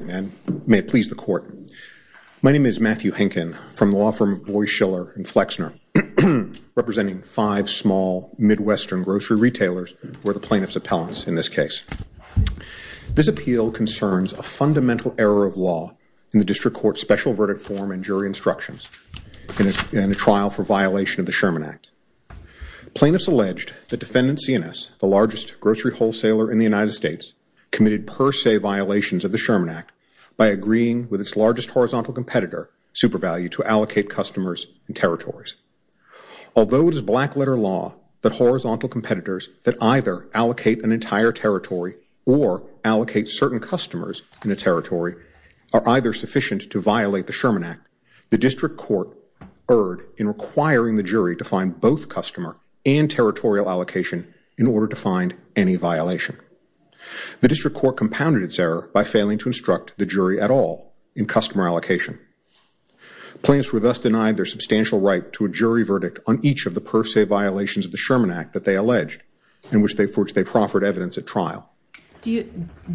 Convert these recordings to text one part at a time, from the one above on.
May it please the Court. My name is Matthew Henkin from the law firm of Boies, Schiller & Flexner, representing five small Midwestern grocery retailers who are the plaintiff's appellants in this case. This appeal concerns a fundamental error of law in the District Court's special verdict form and jury instructions in a trial for violation of the Sherman Act. Plaintiffs alleged that defendant C&S, the largest grocery wholesaler in the United by agreeing with its largest horizontal competitor, SuperValue, to allocate customers and territories. Although it is black-letter law that horizontal competitors that either allocate an entire territory or allocate certain customers in a territory are either sufficient to violate the Sherman Act, the District Court erred in requiring the jury to find both customer and territorial allocation in order to find any violation. The District Court compounded its error by failing to instruct the jury at all in customer allocation. Plaintiffs were thus denied their substantial right to a jury verdict on each of the per se violations of the Sherman Act that they alleged and for which they proffered evidence at trial. Do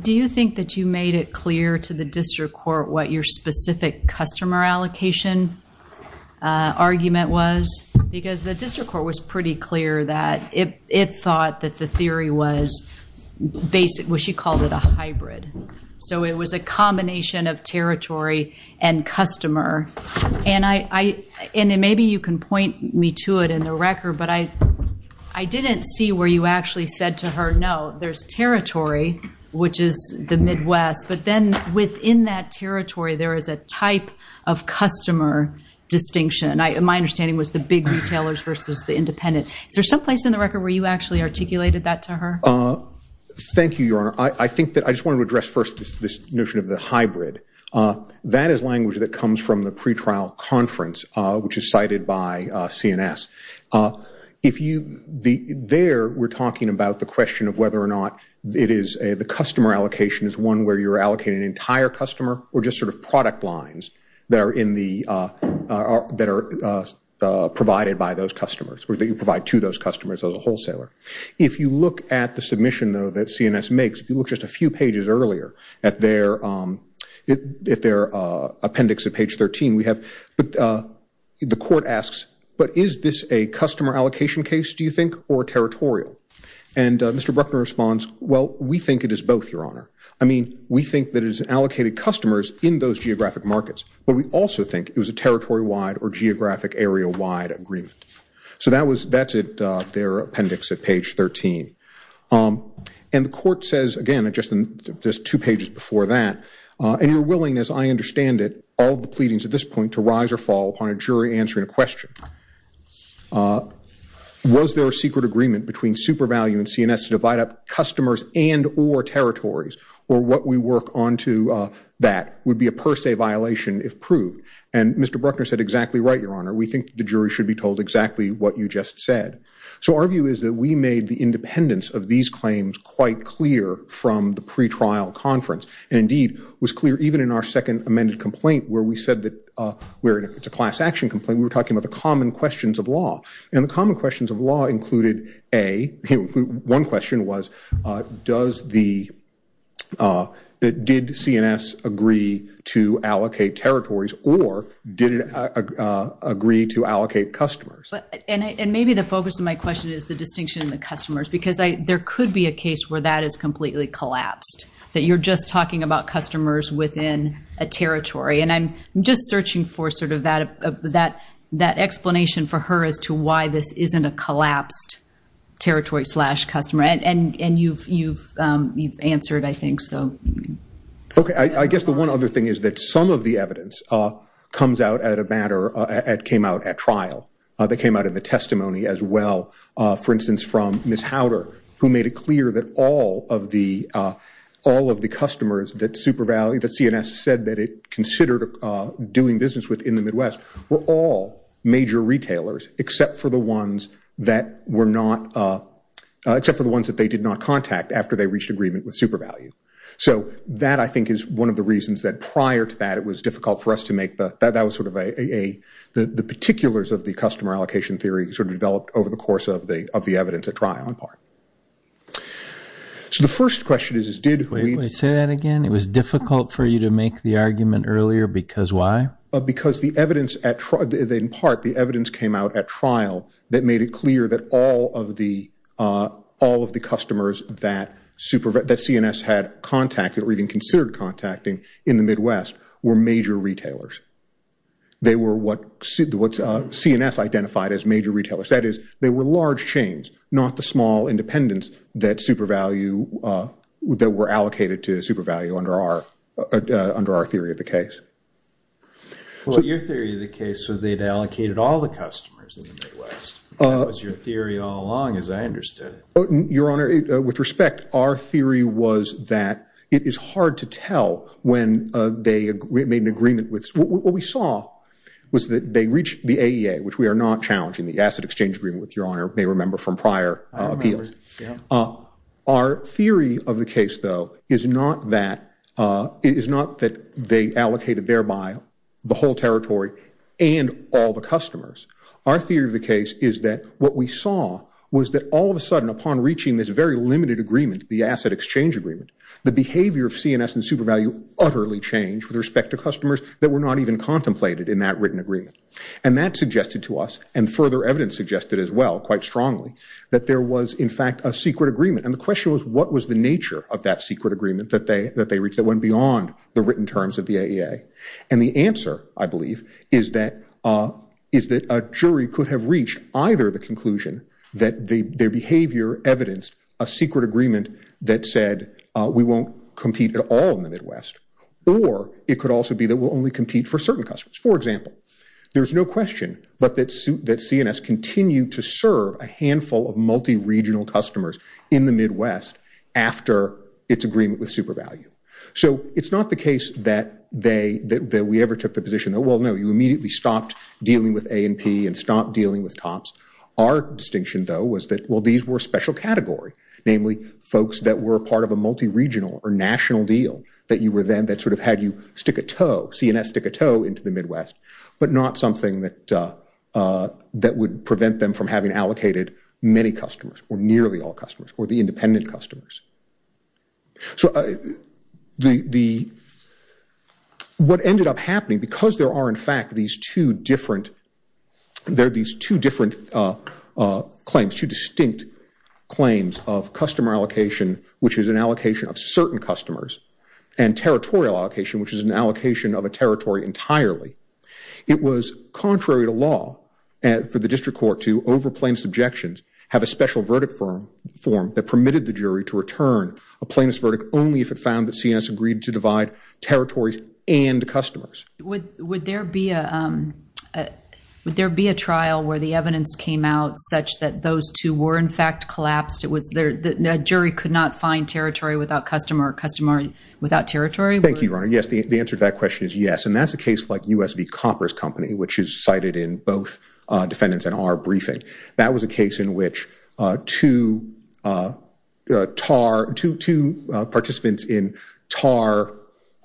you think that you made it clear to the District Court what your specific customer allocation argument was? Because the District Court was pretty clear that it thought that the theory was basic. She called it a hybrid. So it was a combination of territory and customer. Maybe you can point me to it in the record, but I didn't see where you actually said to her, no, there's territory, which is the Midwest, but then within that territory there is a type of customer distinction. My understanding was the big retailers versus the independent. Is there some place in the record where you actually articulated that to her? Thank you, Your Honor. I just wanted to address first this notion of the hybrid. That is language that comes from the pretrial conference, which is cited by CNS. There we're talking about the question of whether or not the customer allocation is one where you're allocating an entire customer or just sort of product lines that are provided by those customers or that you provide to those customers as a wholesaler. If you look at the submission, though, that CNS makes, if you look just a few pages earlier at their appendix at page 13, we have the court asks, but is this a customer allocation case, do you think, or territorial? And Mr. Bruckner responds, well, we think it is both, Your Honor. I mean, we think that it is allocated customers in those geographic markets, but we also think it was a territory-wide or geographic area-wide agreement. So that's at their appendix at page 13. And the court says, again, just two pages before that, and you're willing, as I understand it, all the pleadings at this point to rise or fall upon a jury answering a question. Was there a secret agreement between SuperValue and CNS to divide up customers and or territories, or what we work onto that would be a per se violation if proved? And Mr. Bruckner said exactly right, Your Honor. We think the jury should be told exactly what you just said. So our view is that we made the independence of these claims quite clear from the pretrial conference and, indeed, was clear even in our second amended complaint where we said that it's a class action complaint, we were talking about the common questions of law. And the common questions of law included A, one question was, did CNS agree to allocate territories or did it agree to allocate customers? And maybe the focus of my question is the distinction in the customers, because there could be a case where that is completely collapsed, that you're just talking about customers within a territory. And I'm just searching for sort of that explanation for her as to why this isn't a collapsed territory slash customer. And you've answered, I think, so. Okay. I guess the one other thing is that some of the evidence comes out at a matter, came out at trial, that came out of the testimony as well. For instance, from Ms. Howder, who made it clear that all of the customers that SuperValue, that CNS said that it considered doing business with in the Midwest, were all major retailers except for the ones that they did not contact after they reached agreement with SuperValue. So that, I think, is one of the reasons that prior to that, it was difficult for us to make the, that was sort of a, the particulars of the customer allocation theory sort of developed over the course of the evidence at trial in part. So the first question is, is did we- Wait, say that again. It was difficult for you to make the argument earlier because why? Because the evidence at trial, in part, the evidence came out at trial that made it clear that all of the, all of the customers that SuperValue, that CNS had contacted or even considered contacting in the Midwest were major retailers. They were what CNS identified as major retailers. That is, they were large chains, not the small independents that SuperValue, that were allocated to SuperValue under our, under our theory of the case. Well, your theory of the case was they'd allocated all the customers in the Midwest. That was your theory all along, as I understood it. Your Honor, with respect, our theory was that it is hard to tell when they made an agreement with, what we saw was that they reached the AEA, which we are not challenging, the asset exchange agreement, which Your Honor may remember from prior appeals. Our theory of the case, though, is not that, is not that they allocated thereby the whole territory and all the customers. Our theory of the case is that what we saw was that all of a sudden, upon reaching this very limited agreement, the asset exchange agreement, the behavior of CNS and SuperValue utterly changed with respect to customers that were not even contemplated in that written agreement. And that suggested to us, and further evidence suggested as well, quite strongly, that there was, in fact, a secret agreement. And the question was, what was the nature of that secret agreement that they, that they reached that went beyond the written terms of the AEA? And the answer, I believe, is that, is that a jury could have reached either the conclusion that their behavior evidenced a secret agreement that said we won't compete at all in the Midwest, or it could also be that we'll only compete for certain customers. For example, there's no question but that, that CNS continued to serve a handful of multi-regional customers in the Midwest after its agreement with SuperValue. So it's not the case that they, that we ever took the position that, well, no, you immediately stopped dealing with A&P and stopped dealing with TOPS. Our distinction, though, was that, well, these were special category, namely folks that were part of a multi-regional or national deal that you were then, that sort of had you stick a toe, CNS stick a toe into the Midwest, but not something that, that would prevent them from having allocated many customers, or nearly all customers, or the independent customers. So the, the, what ended up happening, because there are, in fact, these two different, they're these two different claims, two distinct claims of customer allocation, which is an allocation of certain customers, and territorial allocation, which is an allocation of a territory entirely. It was contrary to law for the district court to, over plaintiff's objections, have a special verdict form that permitted the jury to return a plaintiff's verdict only if it found that CNS agreed to divide territories and customers. Would there be a, would there be a trial where the evidence came out such that those two were, in fact, collapsed? It was there, the jury could not find territory without customer, or customer without territory? Thank you, Your Honor. Yes, the answer to that question is yes, and that's a case like US v. Copper's Company, which is cited in both defendants in our briefing. That was a case in which two TAR, two, two participants in TAR,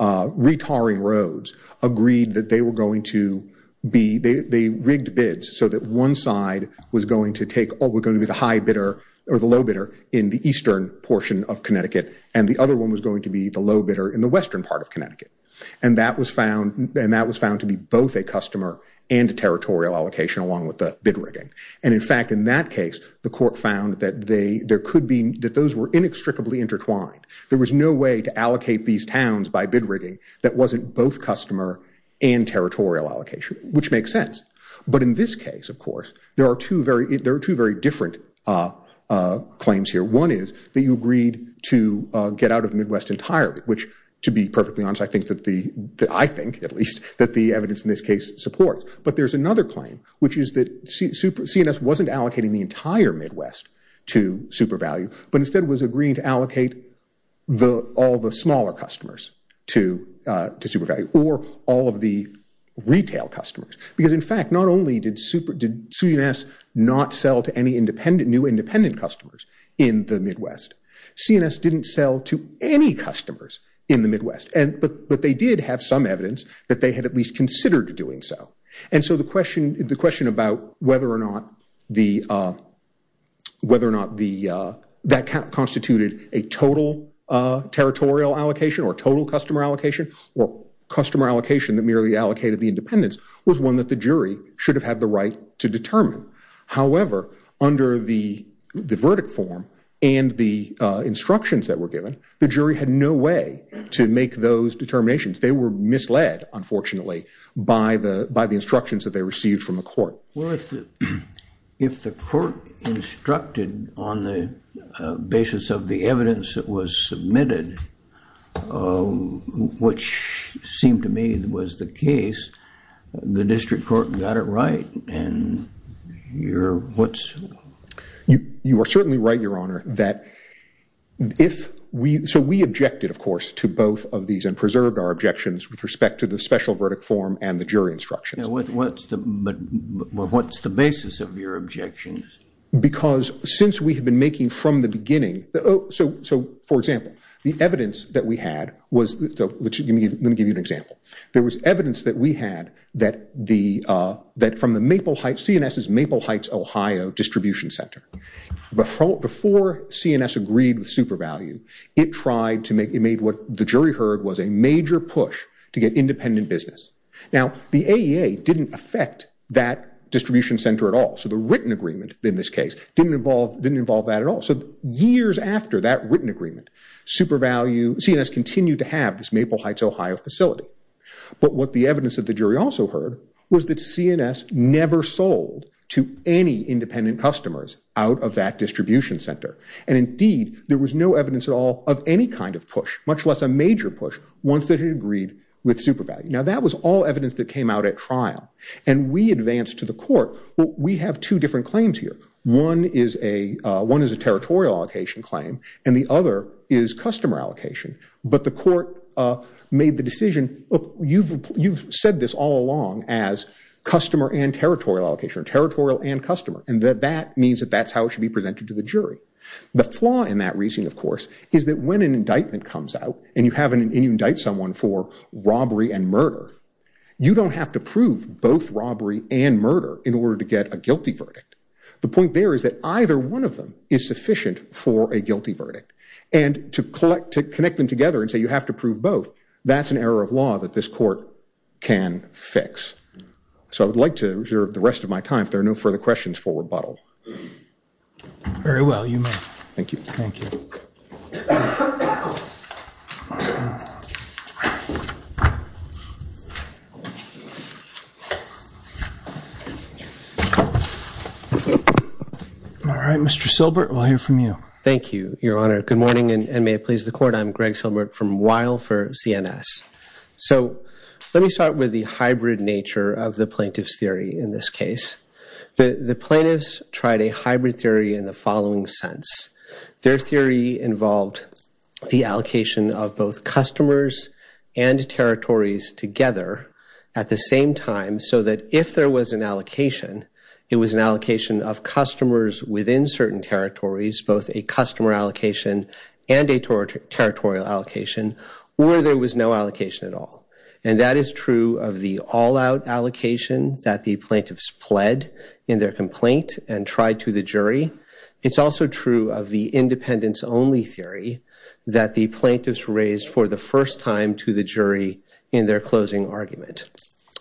re-TAR-ing roads, agreed that they were going to be, they rigged bids so that one side was going to take, oh, we're going to be the high bidder, or the low bidder, in the eastern portion of Connecticut, and the other one was going to be the low bidder in the western part of Connecticut. And that was found, and that was found to be both a customer and a territorial allocation along with the bid rigging. And in fact, in that case, the court found that they, there could be, that those were inextricably intertwined. There was no way to allocate these towns by bid rigging that wasn't both customer and territorial allocation, which makes sense. But in this case, of course, there are two very, there are two very different claims here. One is that you agreed to get out of the Midwest entirely, which to be perfectly honest, I think that the, I think at least, that the evidence in this case supports. But there's another claim, which is that super, CNS wasn't allocating the entire Midwest to super value, but instead was agreeing to allocate the, all the smaller customers to, to super value, or all of the retail customers. Because in fact, not only did super, did CNS not sell to any independent, new independent customers in the Midwest, CNS didn't sell to any customers in the Midwest. And, but, but they did have some evidence that they had at least considered doing so. And so the question, the question about whether or not the, whether or not the, that constituted a total territorial allocation or total customer allocation or customer allocation that merely allocated the independence was one that the jury should have had the right to determine. However, under the, the verdict form and the instructions that were given, the jury had no way to make those determinations. They were misled, unfortunately, by the, by the instructions that they received from the court. Well, if the, if the court instructed on the basis of the evidence that was submitted, which seemed to me that was the case, the district court got it right. And you're, what's. You, you are certainly right, your honor, that if we, so we objected, of course, to both of these and preserved our objections with respect to the special verdict form and the jury instructions. What, what's the, what's the basis of your objections? Because since we have been making from the beginning, so, so for example, the evidence that we had was, let me give you, let me give you an example. There was evidence that we had that the, that from the Maple Heights, CNS's Maple Heights, Ohio distribution center, before, before CNS agreed with super value, it tried to make, it made what the jury heard was a major push to get independent business. Now the AEA didn't affect that distribution center at all. So the written agreement in this case didn't involve, didn't involve that at all. So years after that written agreement, super value, CNS continued to have this Maple Heights, Ohio facility. But what the evidence of the jury also heard was that CNS never sold to any independent customers out of that distribution center. And indeed there was no evidence at all of any kind of push, much less a major push, once they had agreed with super value. Now that was all evidence that came out at trial and we advanced to the court. Well, we have two different claims here. One is a, one is a territorial allocation claim and the other is customer allocation, but the court made the decision, look, you've, you've said this all along as customer and territorial allocation, territorial and customer. And that, that means that that's how it should be presented to the jury. The flaw in that reasoning, of course, is that when an indictment comes out and you have an, and you indict someone for robbery and murder, you don't have to prove both robbery and murder in order to get a guilty verdict. The point there is that either one of them is sufficient for a guilty verdict and to collect, to connect them together and say, you have to prove both. That's an error of law that this court can fix. So I would like to reserve the rest of my time. If there are no further questions for rebuttal. Very well. You may. Thank you. Thank you. All right, Mr. Silbert, we'll hear from you. Thank you, your honor. Good morning and may it please the court. I'm Greg Silbert from Weill for CNS. So let me start with the hybrid nature of the plaintiff's theory. In this case, the plaintiffs tried a hybrid theory in the following sense. Their theory involved the allocation of both customers and territories together at the same time so that if there was an allocation, it was an allocation of customers within certain territories, both a customer allocation and a territorial allocation, or there was no allocation at all. And that is true of the all-out allocation that the plaintiffs pled in their complaint and tried to the jury. It's also true of the independence only theory that the plaintiffs raised for the first time to the jury in their closing argument.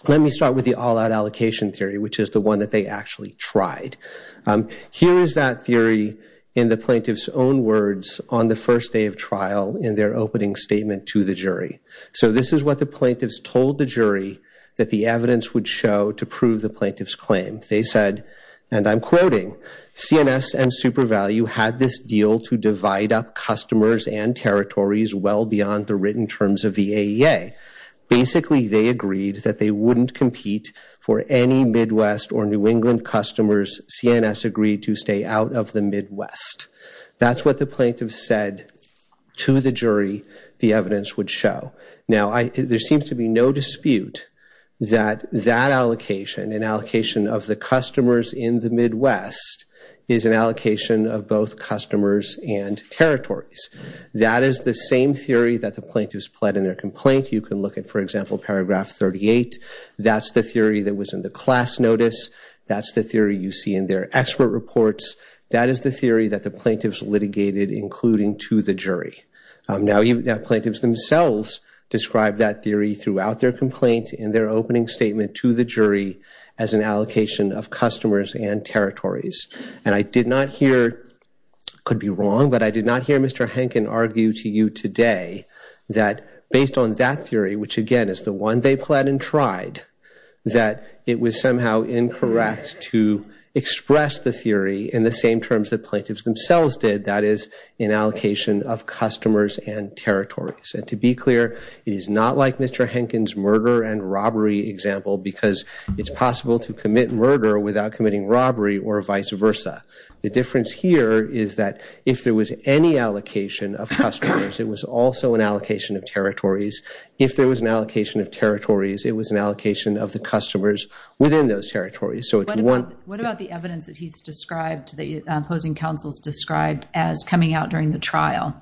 Let me start with the all-out allocation theory, which is the one that they actually tried. Here is that theory in the plaintiff's own words on the first day of trial in their opening statement to the jury. So this is what the plaintiffs told the jury that the evidence would show to prove the plaintiff's claim. They said, and I'm quoting, CNS and SuperValue had this deal to divide up it in terms of the AEA. Basically, they agreed that they wouldn't compete for any Midwest or New England customers CNS agreed to stay out of the Midwest. That's what the plaintiff said to the jury the evidence would show. Now, there seems to be no dispute that that allocation, an allocation of the customers in the Midwest, is an allocation of both customers and territories. That is the same theory that the plaintiffs pled in their complaint. You can look at, for example, paragraph 38. That's the theory that was in the class notice. That's the theory you see in their expert reports. That is the theory that the plaintiffs litigated, including to the jury. Now, plaintiffs themselves described that theory throughout their complaint in their opening statement to the jury as an allocation of customers and territories. And I did not hear, could be wrong, but I did not hear Mr. Henkin argue to you today that based on that theory, which again is the one they pled and tried, that it was somehow incorrect to express the theory in the same terms that plaintiffs themselves did. That is an allocation of customers and territories. And to be clear, it is not like Mr. Henkin's murder and robbery example, because it's possible to commit murder without committing robbery or vice versa. The difference here is that if there was any allocation of customers, it was also an allocation of territories. If there was an allocation of territories, it was an allocation of the customers within those territories. So it's one. What about the evidence that he's described, the opposing counsels described as coming out during the trial,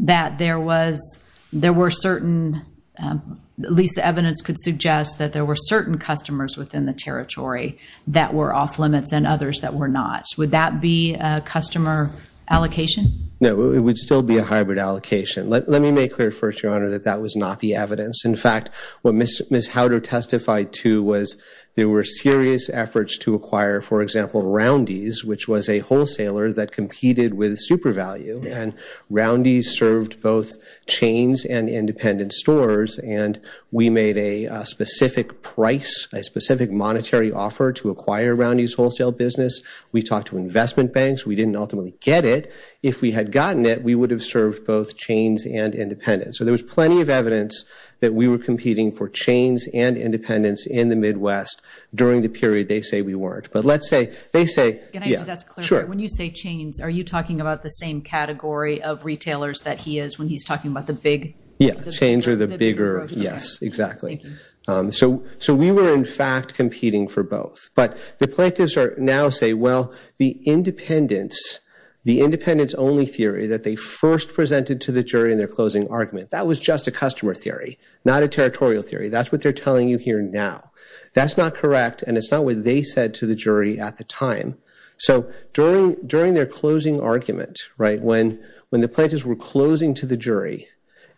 that there was, there were certain, at least the evidence could suggest that there were certain customers within the territories that were off limits and others that were not. Would that be a customer allocation? No, it would still be a hybrid allocation. Let, let me make clear first, Your Honor, that that was not the evidence. In fact, what Miss, Miss Howder testified to was there were serious efforts to acquire, for example, Roundy's, which was a wholesaler that competed with SuperValue and Roundy's served both chains and independent stores. And we made a specific price, a specific monetary offer to acquire Roundy's wholesale business. We talked to investment banks. We didn't ultimately get it. If we had gotten it, we would have served both chains and independent. So there was plenty of evidence that we were competing for chains and independence in the Midwest during the period they say we weren't. But let's say they say, yeah, sure. When you say chains, are you talking about the same category of retailers that he is when he's talking about the big? Yeah, chains are the bigger. Yes, exactly. So, so we were in fact competing for both, but the plaintiffs are now say, well, the independence, the independence only theory that they first presented to the jury in their closing argument, that was just a customer theory, not a territorial theory. That's what they're telling you here now. That's not correct. And it's not what they said to the jury at the time. So during, during their closing argument, right, when, when the plaintiffs were closing to the jury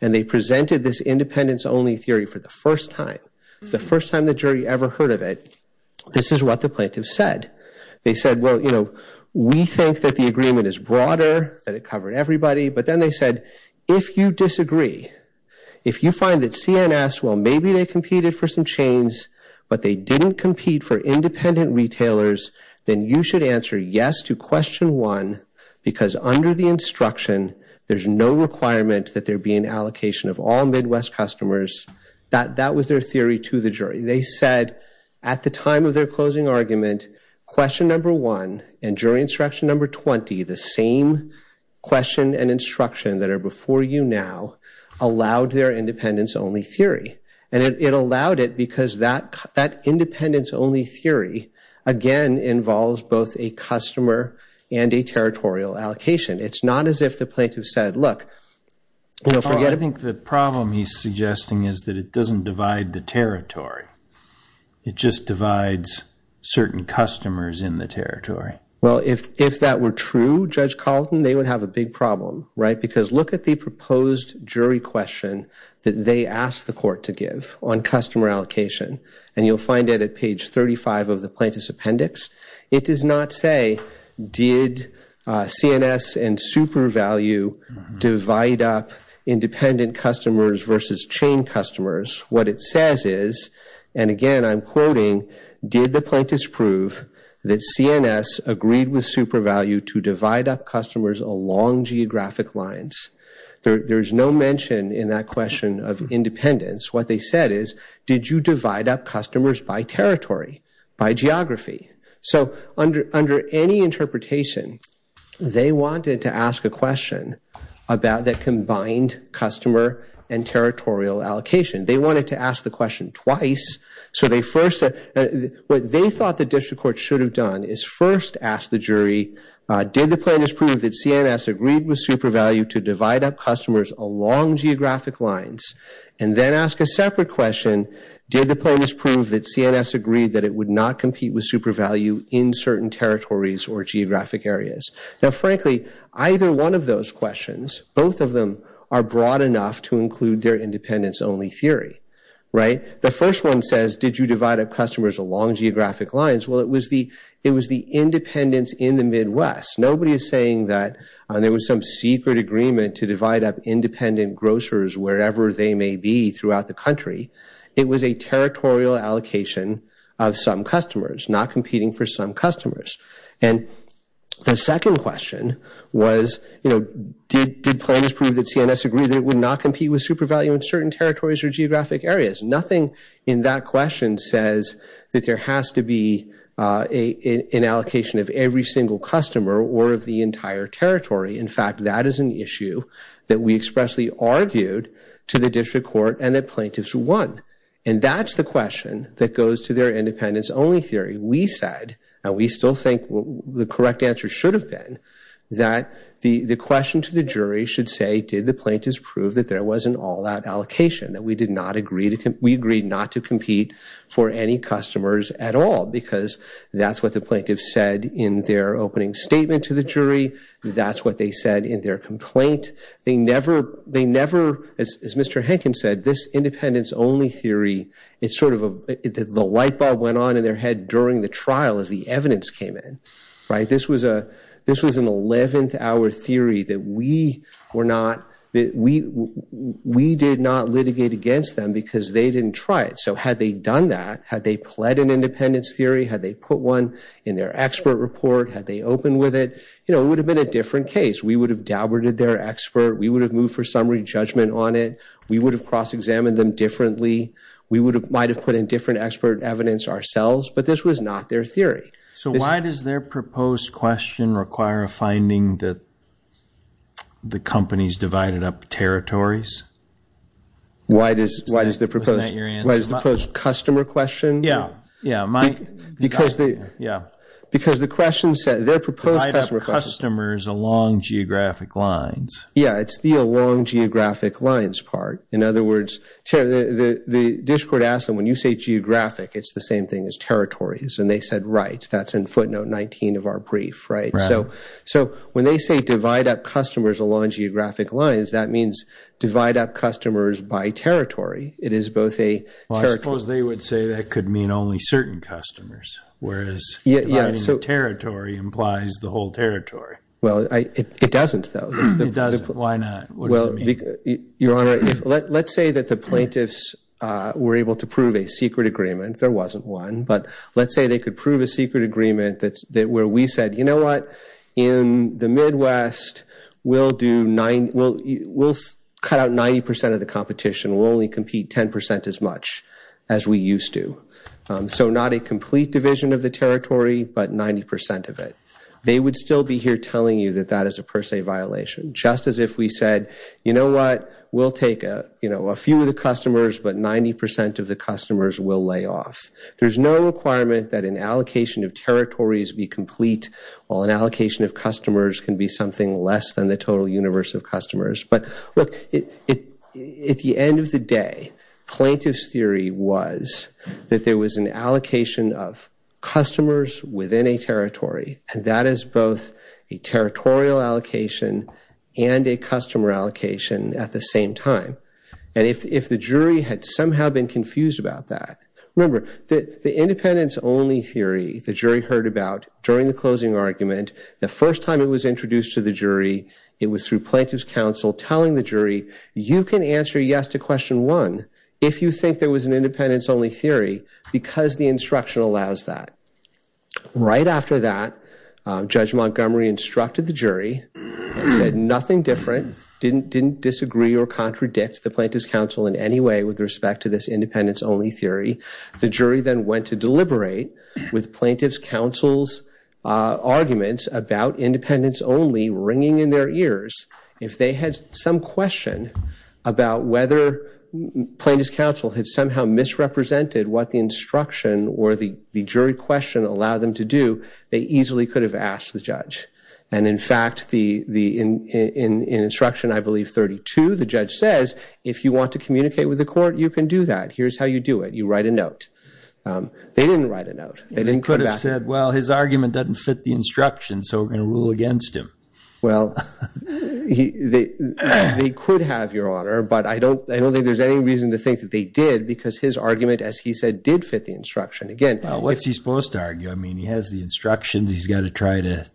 and they presented this independence only theory for the first time, the first time the jury ever heard of it, this is what the plaintiffs said. They said, well, you know, we think that the agreement is broader, that it covered everybody. But then they said, if you disagree, if you find that CNS, well, maybe they competed for some chains, but they didn't compete for independent retailers, then you should answer yes to question one, because under the instruction, there's no requirement that there be an allocation of all Midwest customers. That, that was their theory to the jury. They said at the time of their closing argument, question number one and jury instruction number 20, the same question and instruction that are before you now allowed their independence only theory. And it allowed it because that, that independence only theory, again, involves both a customer and a territorial allocation. It's not as if the plaintiff said, look, you know, forget it. I think the problem he's suggesting is that it doesn't divide the territory. It just divides certain customers in the territory. Well, if, if that were true, Judge Carlton, they would have a big problem, right? Because look at the proposed jury question that they asked the court to give on customer allocation. And you'll find it at page 35 of the plaintiff's appendix. It does not say, did CNS and SuperValue divide up independent customers versus chain customers? What it says is, and again, I'm quoting, did the plaintiffs prove that CNS agreed with SuperValue to divide up customers along geographic lines? There, there's no mention in that question of independence. What they said is, did you divide up customers by territory, by geography? So under, under any interpretation, they wanted to ask a question about that combined customer and territorial allocation. They wanted to ask the question twice. So they first, what they thought the district court should have done is first ask the jury, did the plaintiffs prove that CNS agreed with SuperValue to divide up customers along geographic lines? And then ask a separate question, did the plaintiffs prove that CNS agreed that it would not compete with SuperValue in certain territories or geographic areas? Now, frankly, either one of those questions, both of them are broad enough to include their independence-only theory, right? The first one says, did you divide up customers along geographic lines? Well, it was the, it was the independents in the Midwest. Nobody is saying that there was some secret agreement to divide up independent grocers wherever they may be throughout the country. It was a territorial allocation of some customers, not competing for some customers. And the second question was, you know, did, did plaintiffs prove that CNS agreed that it would not compete with SuperValue in certain territories or geographic areas? Nothing in that question says that there has to be a, an allocation of every single customer or of the entire territory. In fact, that is an issue that we expressly argued to the district court and that was gone. And that's the question that goes to their independence-only theory. We said, and we still think the correct answer should have been, that the, the question to the jury should say, did the plaintiffs prove that there wasn't all that allocation, that we did not agree to, we agreed not to compete for any customers at all? Because that's what the plaintiffs said in their opening statement to the jury. That's what they said in their complaint. They never, they never, as, as Mr. Henkin said, this independence-only theory, it's sort of a, the light bulb went on in their head during the trial as the evidence came in. Right? This was a, this was an 11th hour theory that we were not, that we, we did not litigate against them because they didn't try it. So had they done that, had they pled an independence theory, had they put one in their expert report, had they opened with it, you know, it would have been a different case. We would have doubted their expert. We would have moved for summary judgment on it. We would have cross-examined them differently. We would have, might have put in different expert evidence ourselves. But this was not their theory. So why does their proposed question require a finding that the companies divided up territories? Why does, why does the proposed, why does the proposed customer question? Yeah. Yeah. Because the, yeah. Divide up customers along geographic lines. Yeah. It's the along geographic lines part. In other words, the district asked them, when you say geographic, it's the same thing as territories. And they said, right, that's in footnote 19 of our brief, right? So, so when they say divide up customers along geographic lines, that means divide up customers by territory. It is both a territory. Well, I suppose they would say that could mean only certain customers. Whereas dividing the territory implies the whole territory. Well, it doesn't though. It doesn't. Why not? What does it mean? Well, Your Honor, let's say that the plaintiffs were able to prove a secret agreement. There wasn't one. But let's say they could prove a secret agreement that's, that where we said, you know what? In the Midwest, we'll do nine, we'll, we'll cut out 90% of the competition. We'll only compete 10% as much as we used to. So not a complete division of the territory, but 90% of it. They would still be here telling you that that is a per se violation. Just as if we said, you know what? We'll take a, you know, a few of the customers, but 90% of the customers will lay off. There's no requirement that an allocation of territories be complete, while an allocation of customers can be something less than the total universe of customers. But look, it, it, at the end of the day, plaintiff's theory was that there was an allocation of customers within a territory, and that is both a territorial allocation and a customer allocation at the same time. And if, if the jury had somehow been confused about that, remember that the independence only theory the jury heard about during the closing argument, the first time it was introduced to the jury, it was through plaintiff's counsel telling the jury, you can answer yes to question one if you think there was an independence only theory, because the instruction allows that. Right after that, Judge Montgomery instructed the jury and said nothing different, didn't, didn't disagree or contradict the plaintiff's counsel in any way with respect to this independence only theory. The jury then went to deliberate with plaintiff's counsel's arguments about independence only ringing in their ears. If they had some question about whether plaintiff's counsel had somehow misrepresented what the instruction or the, the jury question allowed them to do, they easily could have asked the judge. And in fact, the, the, in, in, in instruction, I believe 32, the judge says, if you want to communicate with the court, you can do that. Here's how you do it. You write a note. Um, they didn't write a note. They didn't come back. He could have said, well, his argument doesn't fit the instruction, so we're going to rule against him. Well, he, they, they could have, Your Honor, but I don't, I don't think there's any reason to think that they did because his argument, as he said, did fit the instruction. Again, What's he supposed to argue? I mean, he has the instructions. He's got to try to,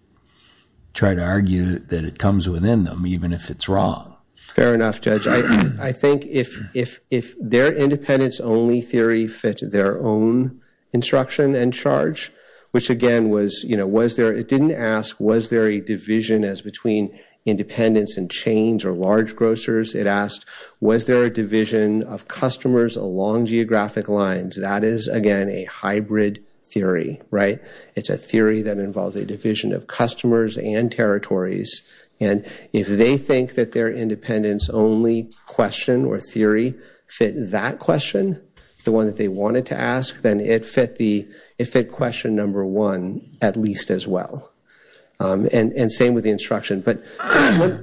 try to argue that it comes within them, even if it's wrong. Fair enough, Judge. I think if, if, if their independence-only theory fit their own instruction and charge, which again was, you know, was there, it didn't ask, was there a division as between independents and chains or large grocers? It asked, was there a division of customers along geographic lines? That is, again, a hybrid theory, right? It's a theory that involves a division of customers and territories. And if they think that their independence-only question or theory fit that question, the one that they wanted to ask, then it fit the, it fit question number one, at least as well. And same with the instruction. But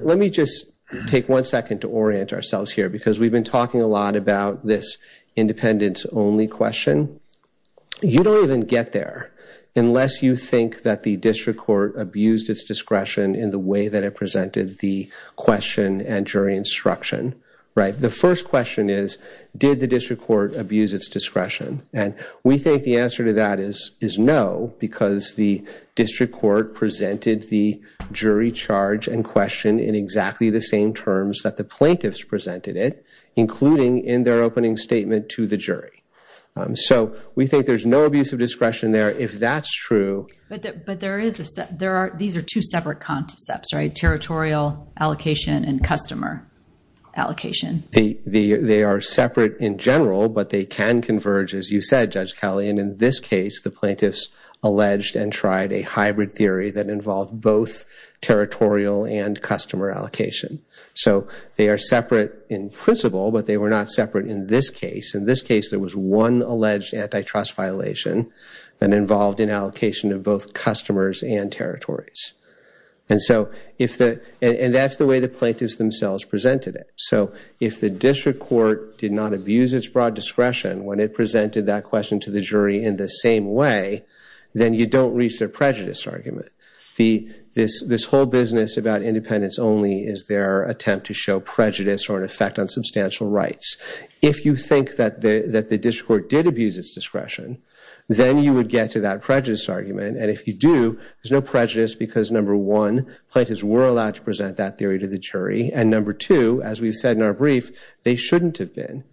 let me just take one second to orient ourselves here because we've been talking a lot about this independence-only question. You don't even get there unless you think that the district court abused its discretion in the way that it presented the question and jury instruction, right? The first question is, did the district court abuse its discretion? And we think the answer to that is, is no, because the district court presented the jury charge and question in exactly the same terms that the plaintiffs presented it, including in their opening statement to the jury. So we think there's no abuse of discretion there, if that's true. But there is a set, there are, these are two separate concepts, right? Territorial allocation and customer allocation. They are separate in general, but they can converge, as you said, Judge Cawley, and in this case, the plaintiffs alleged and tried a hybrid theory that involved both territorial and customer allocation. So they are separate in principle, but they were not separate in this case. In this case, there was one alleged antitrust violation that involved an allocation of both customers and territories. And so if the, and that's the way the plaintiffs themselves presented it. So if the district court did not abuse its broad discretion when it presented that question to the jury in the same way, then you don't reach their prejudice argument. This whole business about independence only is their attempt to show prejudice or an effect on substantial rights. If you think that the district court did abuse its discretion, then you would get to that prejudice argument. And if you do, there's no prejudice because number one, plaintiffs were allowed to present that theory to the jury. And number two, as we've said in our brief, they shouldn't have been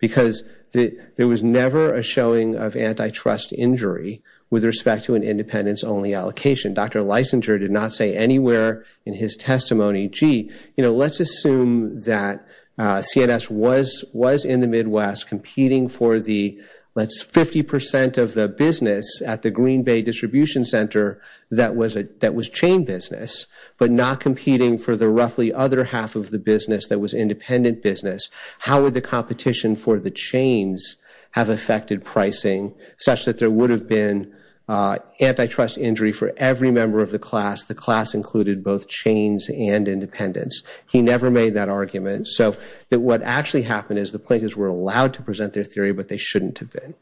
because there was never a showing of antitrust injury with respect to an independence only allocation. Dr. Leisinger did not say anywhere in his testimony, gee, you know, let's assume that CNS was in the Midwest competing for the, let's, 50% of the business at the Green Bay Distribution Center that was chain business, but not competing for the roughly other half of the business that was independent business. How would the competition for the chains have affected pricing such that there would have been antitrust injury for every member of the class? The class included both chains and independents. He never made that argument. So that what actually happened is the plaintiffs were allowed to present their theory, but they shouldn't have been.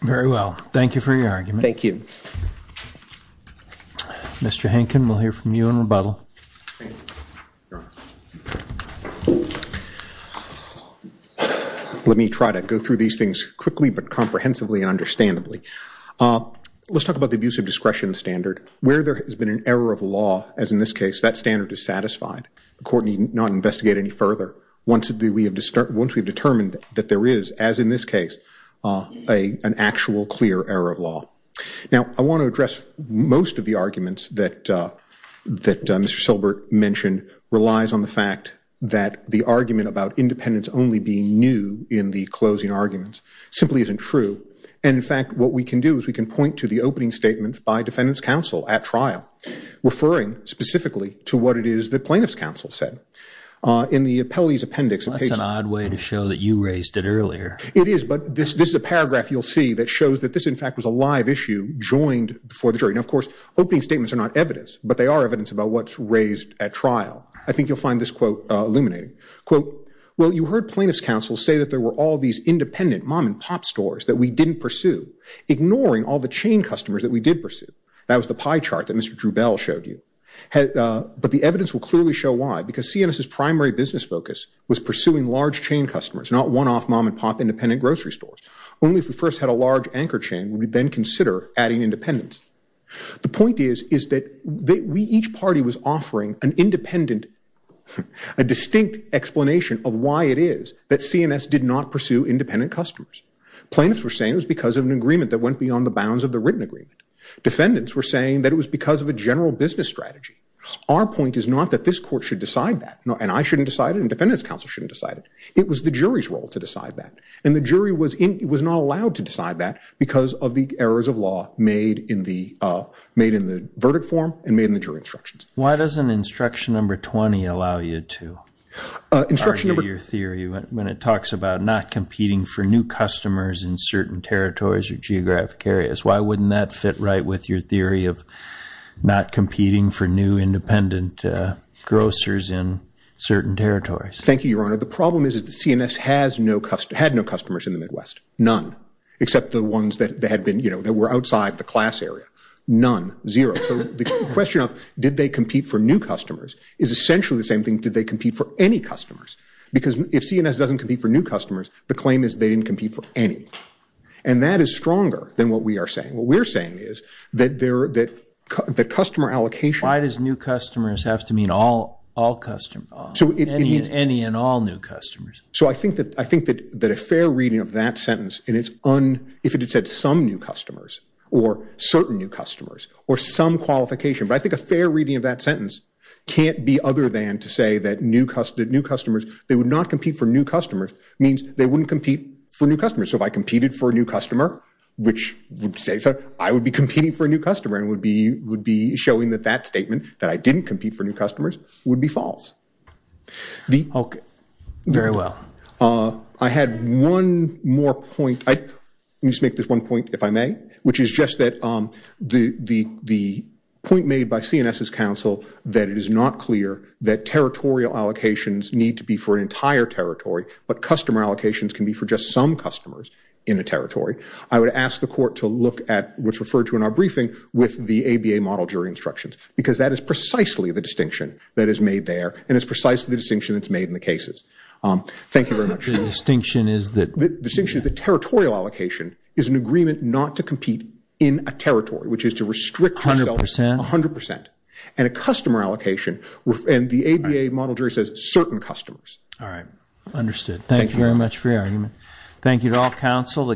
Very well. Thank you for your argument. Thank you. Mr. Hankin, we'll hear from you in rebuttal. Let me try to go through these things quickly, but comprehensively and understandably. Let's talk about the abuse of discretion standard. Where there has been an error of law, as in this case, that standard is satisfied. The court need not investigate any further once we have determined that there is, as in this case, an actual clear error of law. Now, I want to address most of the arguments that Mr. Silbert mentioned relies on the fact that the argument about independents only being new in the closing arguments simply isn't true. And in fact, what we can do is we can point to the opening statements by defendants counsel at trial, referring specifically to what it is that plaintiffs counsel said. In the appellee's appendix. That's an odd way to show that you raised it earlier. It is, but this is a paragraph you'll see that shows that this, in fact, was a live issue joined before the jury. Now, of course, opening statements are not evidence, but they are evidence about what's raised at trial. I think you'll find this quote illuminating. Quote, well, you heard plaintiffs counsel say that there were all these independent mom and pop stores that we didn't pursue, ignoring all the chain customers that we did pursue. That was the pie chart that Mr. Drew Bell showed you. But the evidence will clearly show why, because CNS's primary business focus was pursuing large chain customers, not one-off mom and pop independent grocery stores. Only if we first had a large anchor chain would we then consider adding independents. The point is, is that we each party was offering an independent, a distinct explanation of why it is that CNS did not pursue independent customers. Plaintiffs were saying it was because of an agreement that went beyond the bounds of the written agreement. Defendants were saying that it was because of a general business strategy. Our point is not that this court should decide that, and I shouldn't decide it, and defendants counsel shouldn't decide it. It was the jury's role to decide that, and the jury was not allowed to decide that because of the errors of law made in the verdict form and made in the jury instructions. Why doesn't instruction number 20 allow you to argue your theory when it talks about not competing for new customers in certain territories or geographic areas? Why wouldn't that fit right with your theory of not competing for new independent grocers in certain territories? Thank you, Your Honor. The problem is that CNS had no customers in the Midwest, none, except the ones that were outside the class area, none, zero. The question of did they compete for new customers is essentially the same thing, did they compete for any customers? Because if CNS doesn't compete for new customers, the claim is they didn't compete for any, and that is stronger than what we are saying. What we're saying is that customer allocation- Why does new customers have to mean all customers? Any and all new customers? So I think that a fair reading of that sentence, and if it had said some new customers or certain new customers or some qualification, but I think a fair reading of that sentence can't be other than to say that new customers, they would not compete for new customers, means they wouldn't compete for new customers. So if I competed for a new customer, which would say I would be competing for a new customer and would be showing that that statement, that I didn't compete for new customers, would be false. Okay. Very well. I had one more point, let me just make this one point if I may, which is just that the point made by CNS's counsel that it is not clear that territorial allocations need to be for an entire territory, but customer allocations can be for just some customers in a territory. I would ask the court to look at what's referred to in our briefing with the ABA model jury instructions, because that is precisely the distinction that is made there, and it's precisely the distinction that's made in the cases. Thank you very much. The distinction is that- The distinction is that territorial allocation is an agreement not to compete in a territory, which is to restrict- A hundred percent? A hundred percent. And a customer allocation, and the ABA model jury says certain customers. All right. Understood. Thank you very much for your argument. Thank you to all counsel.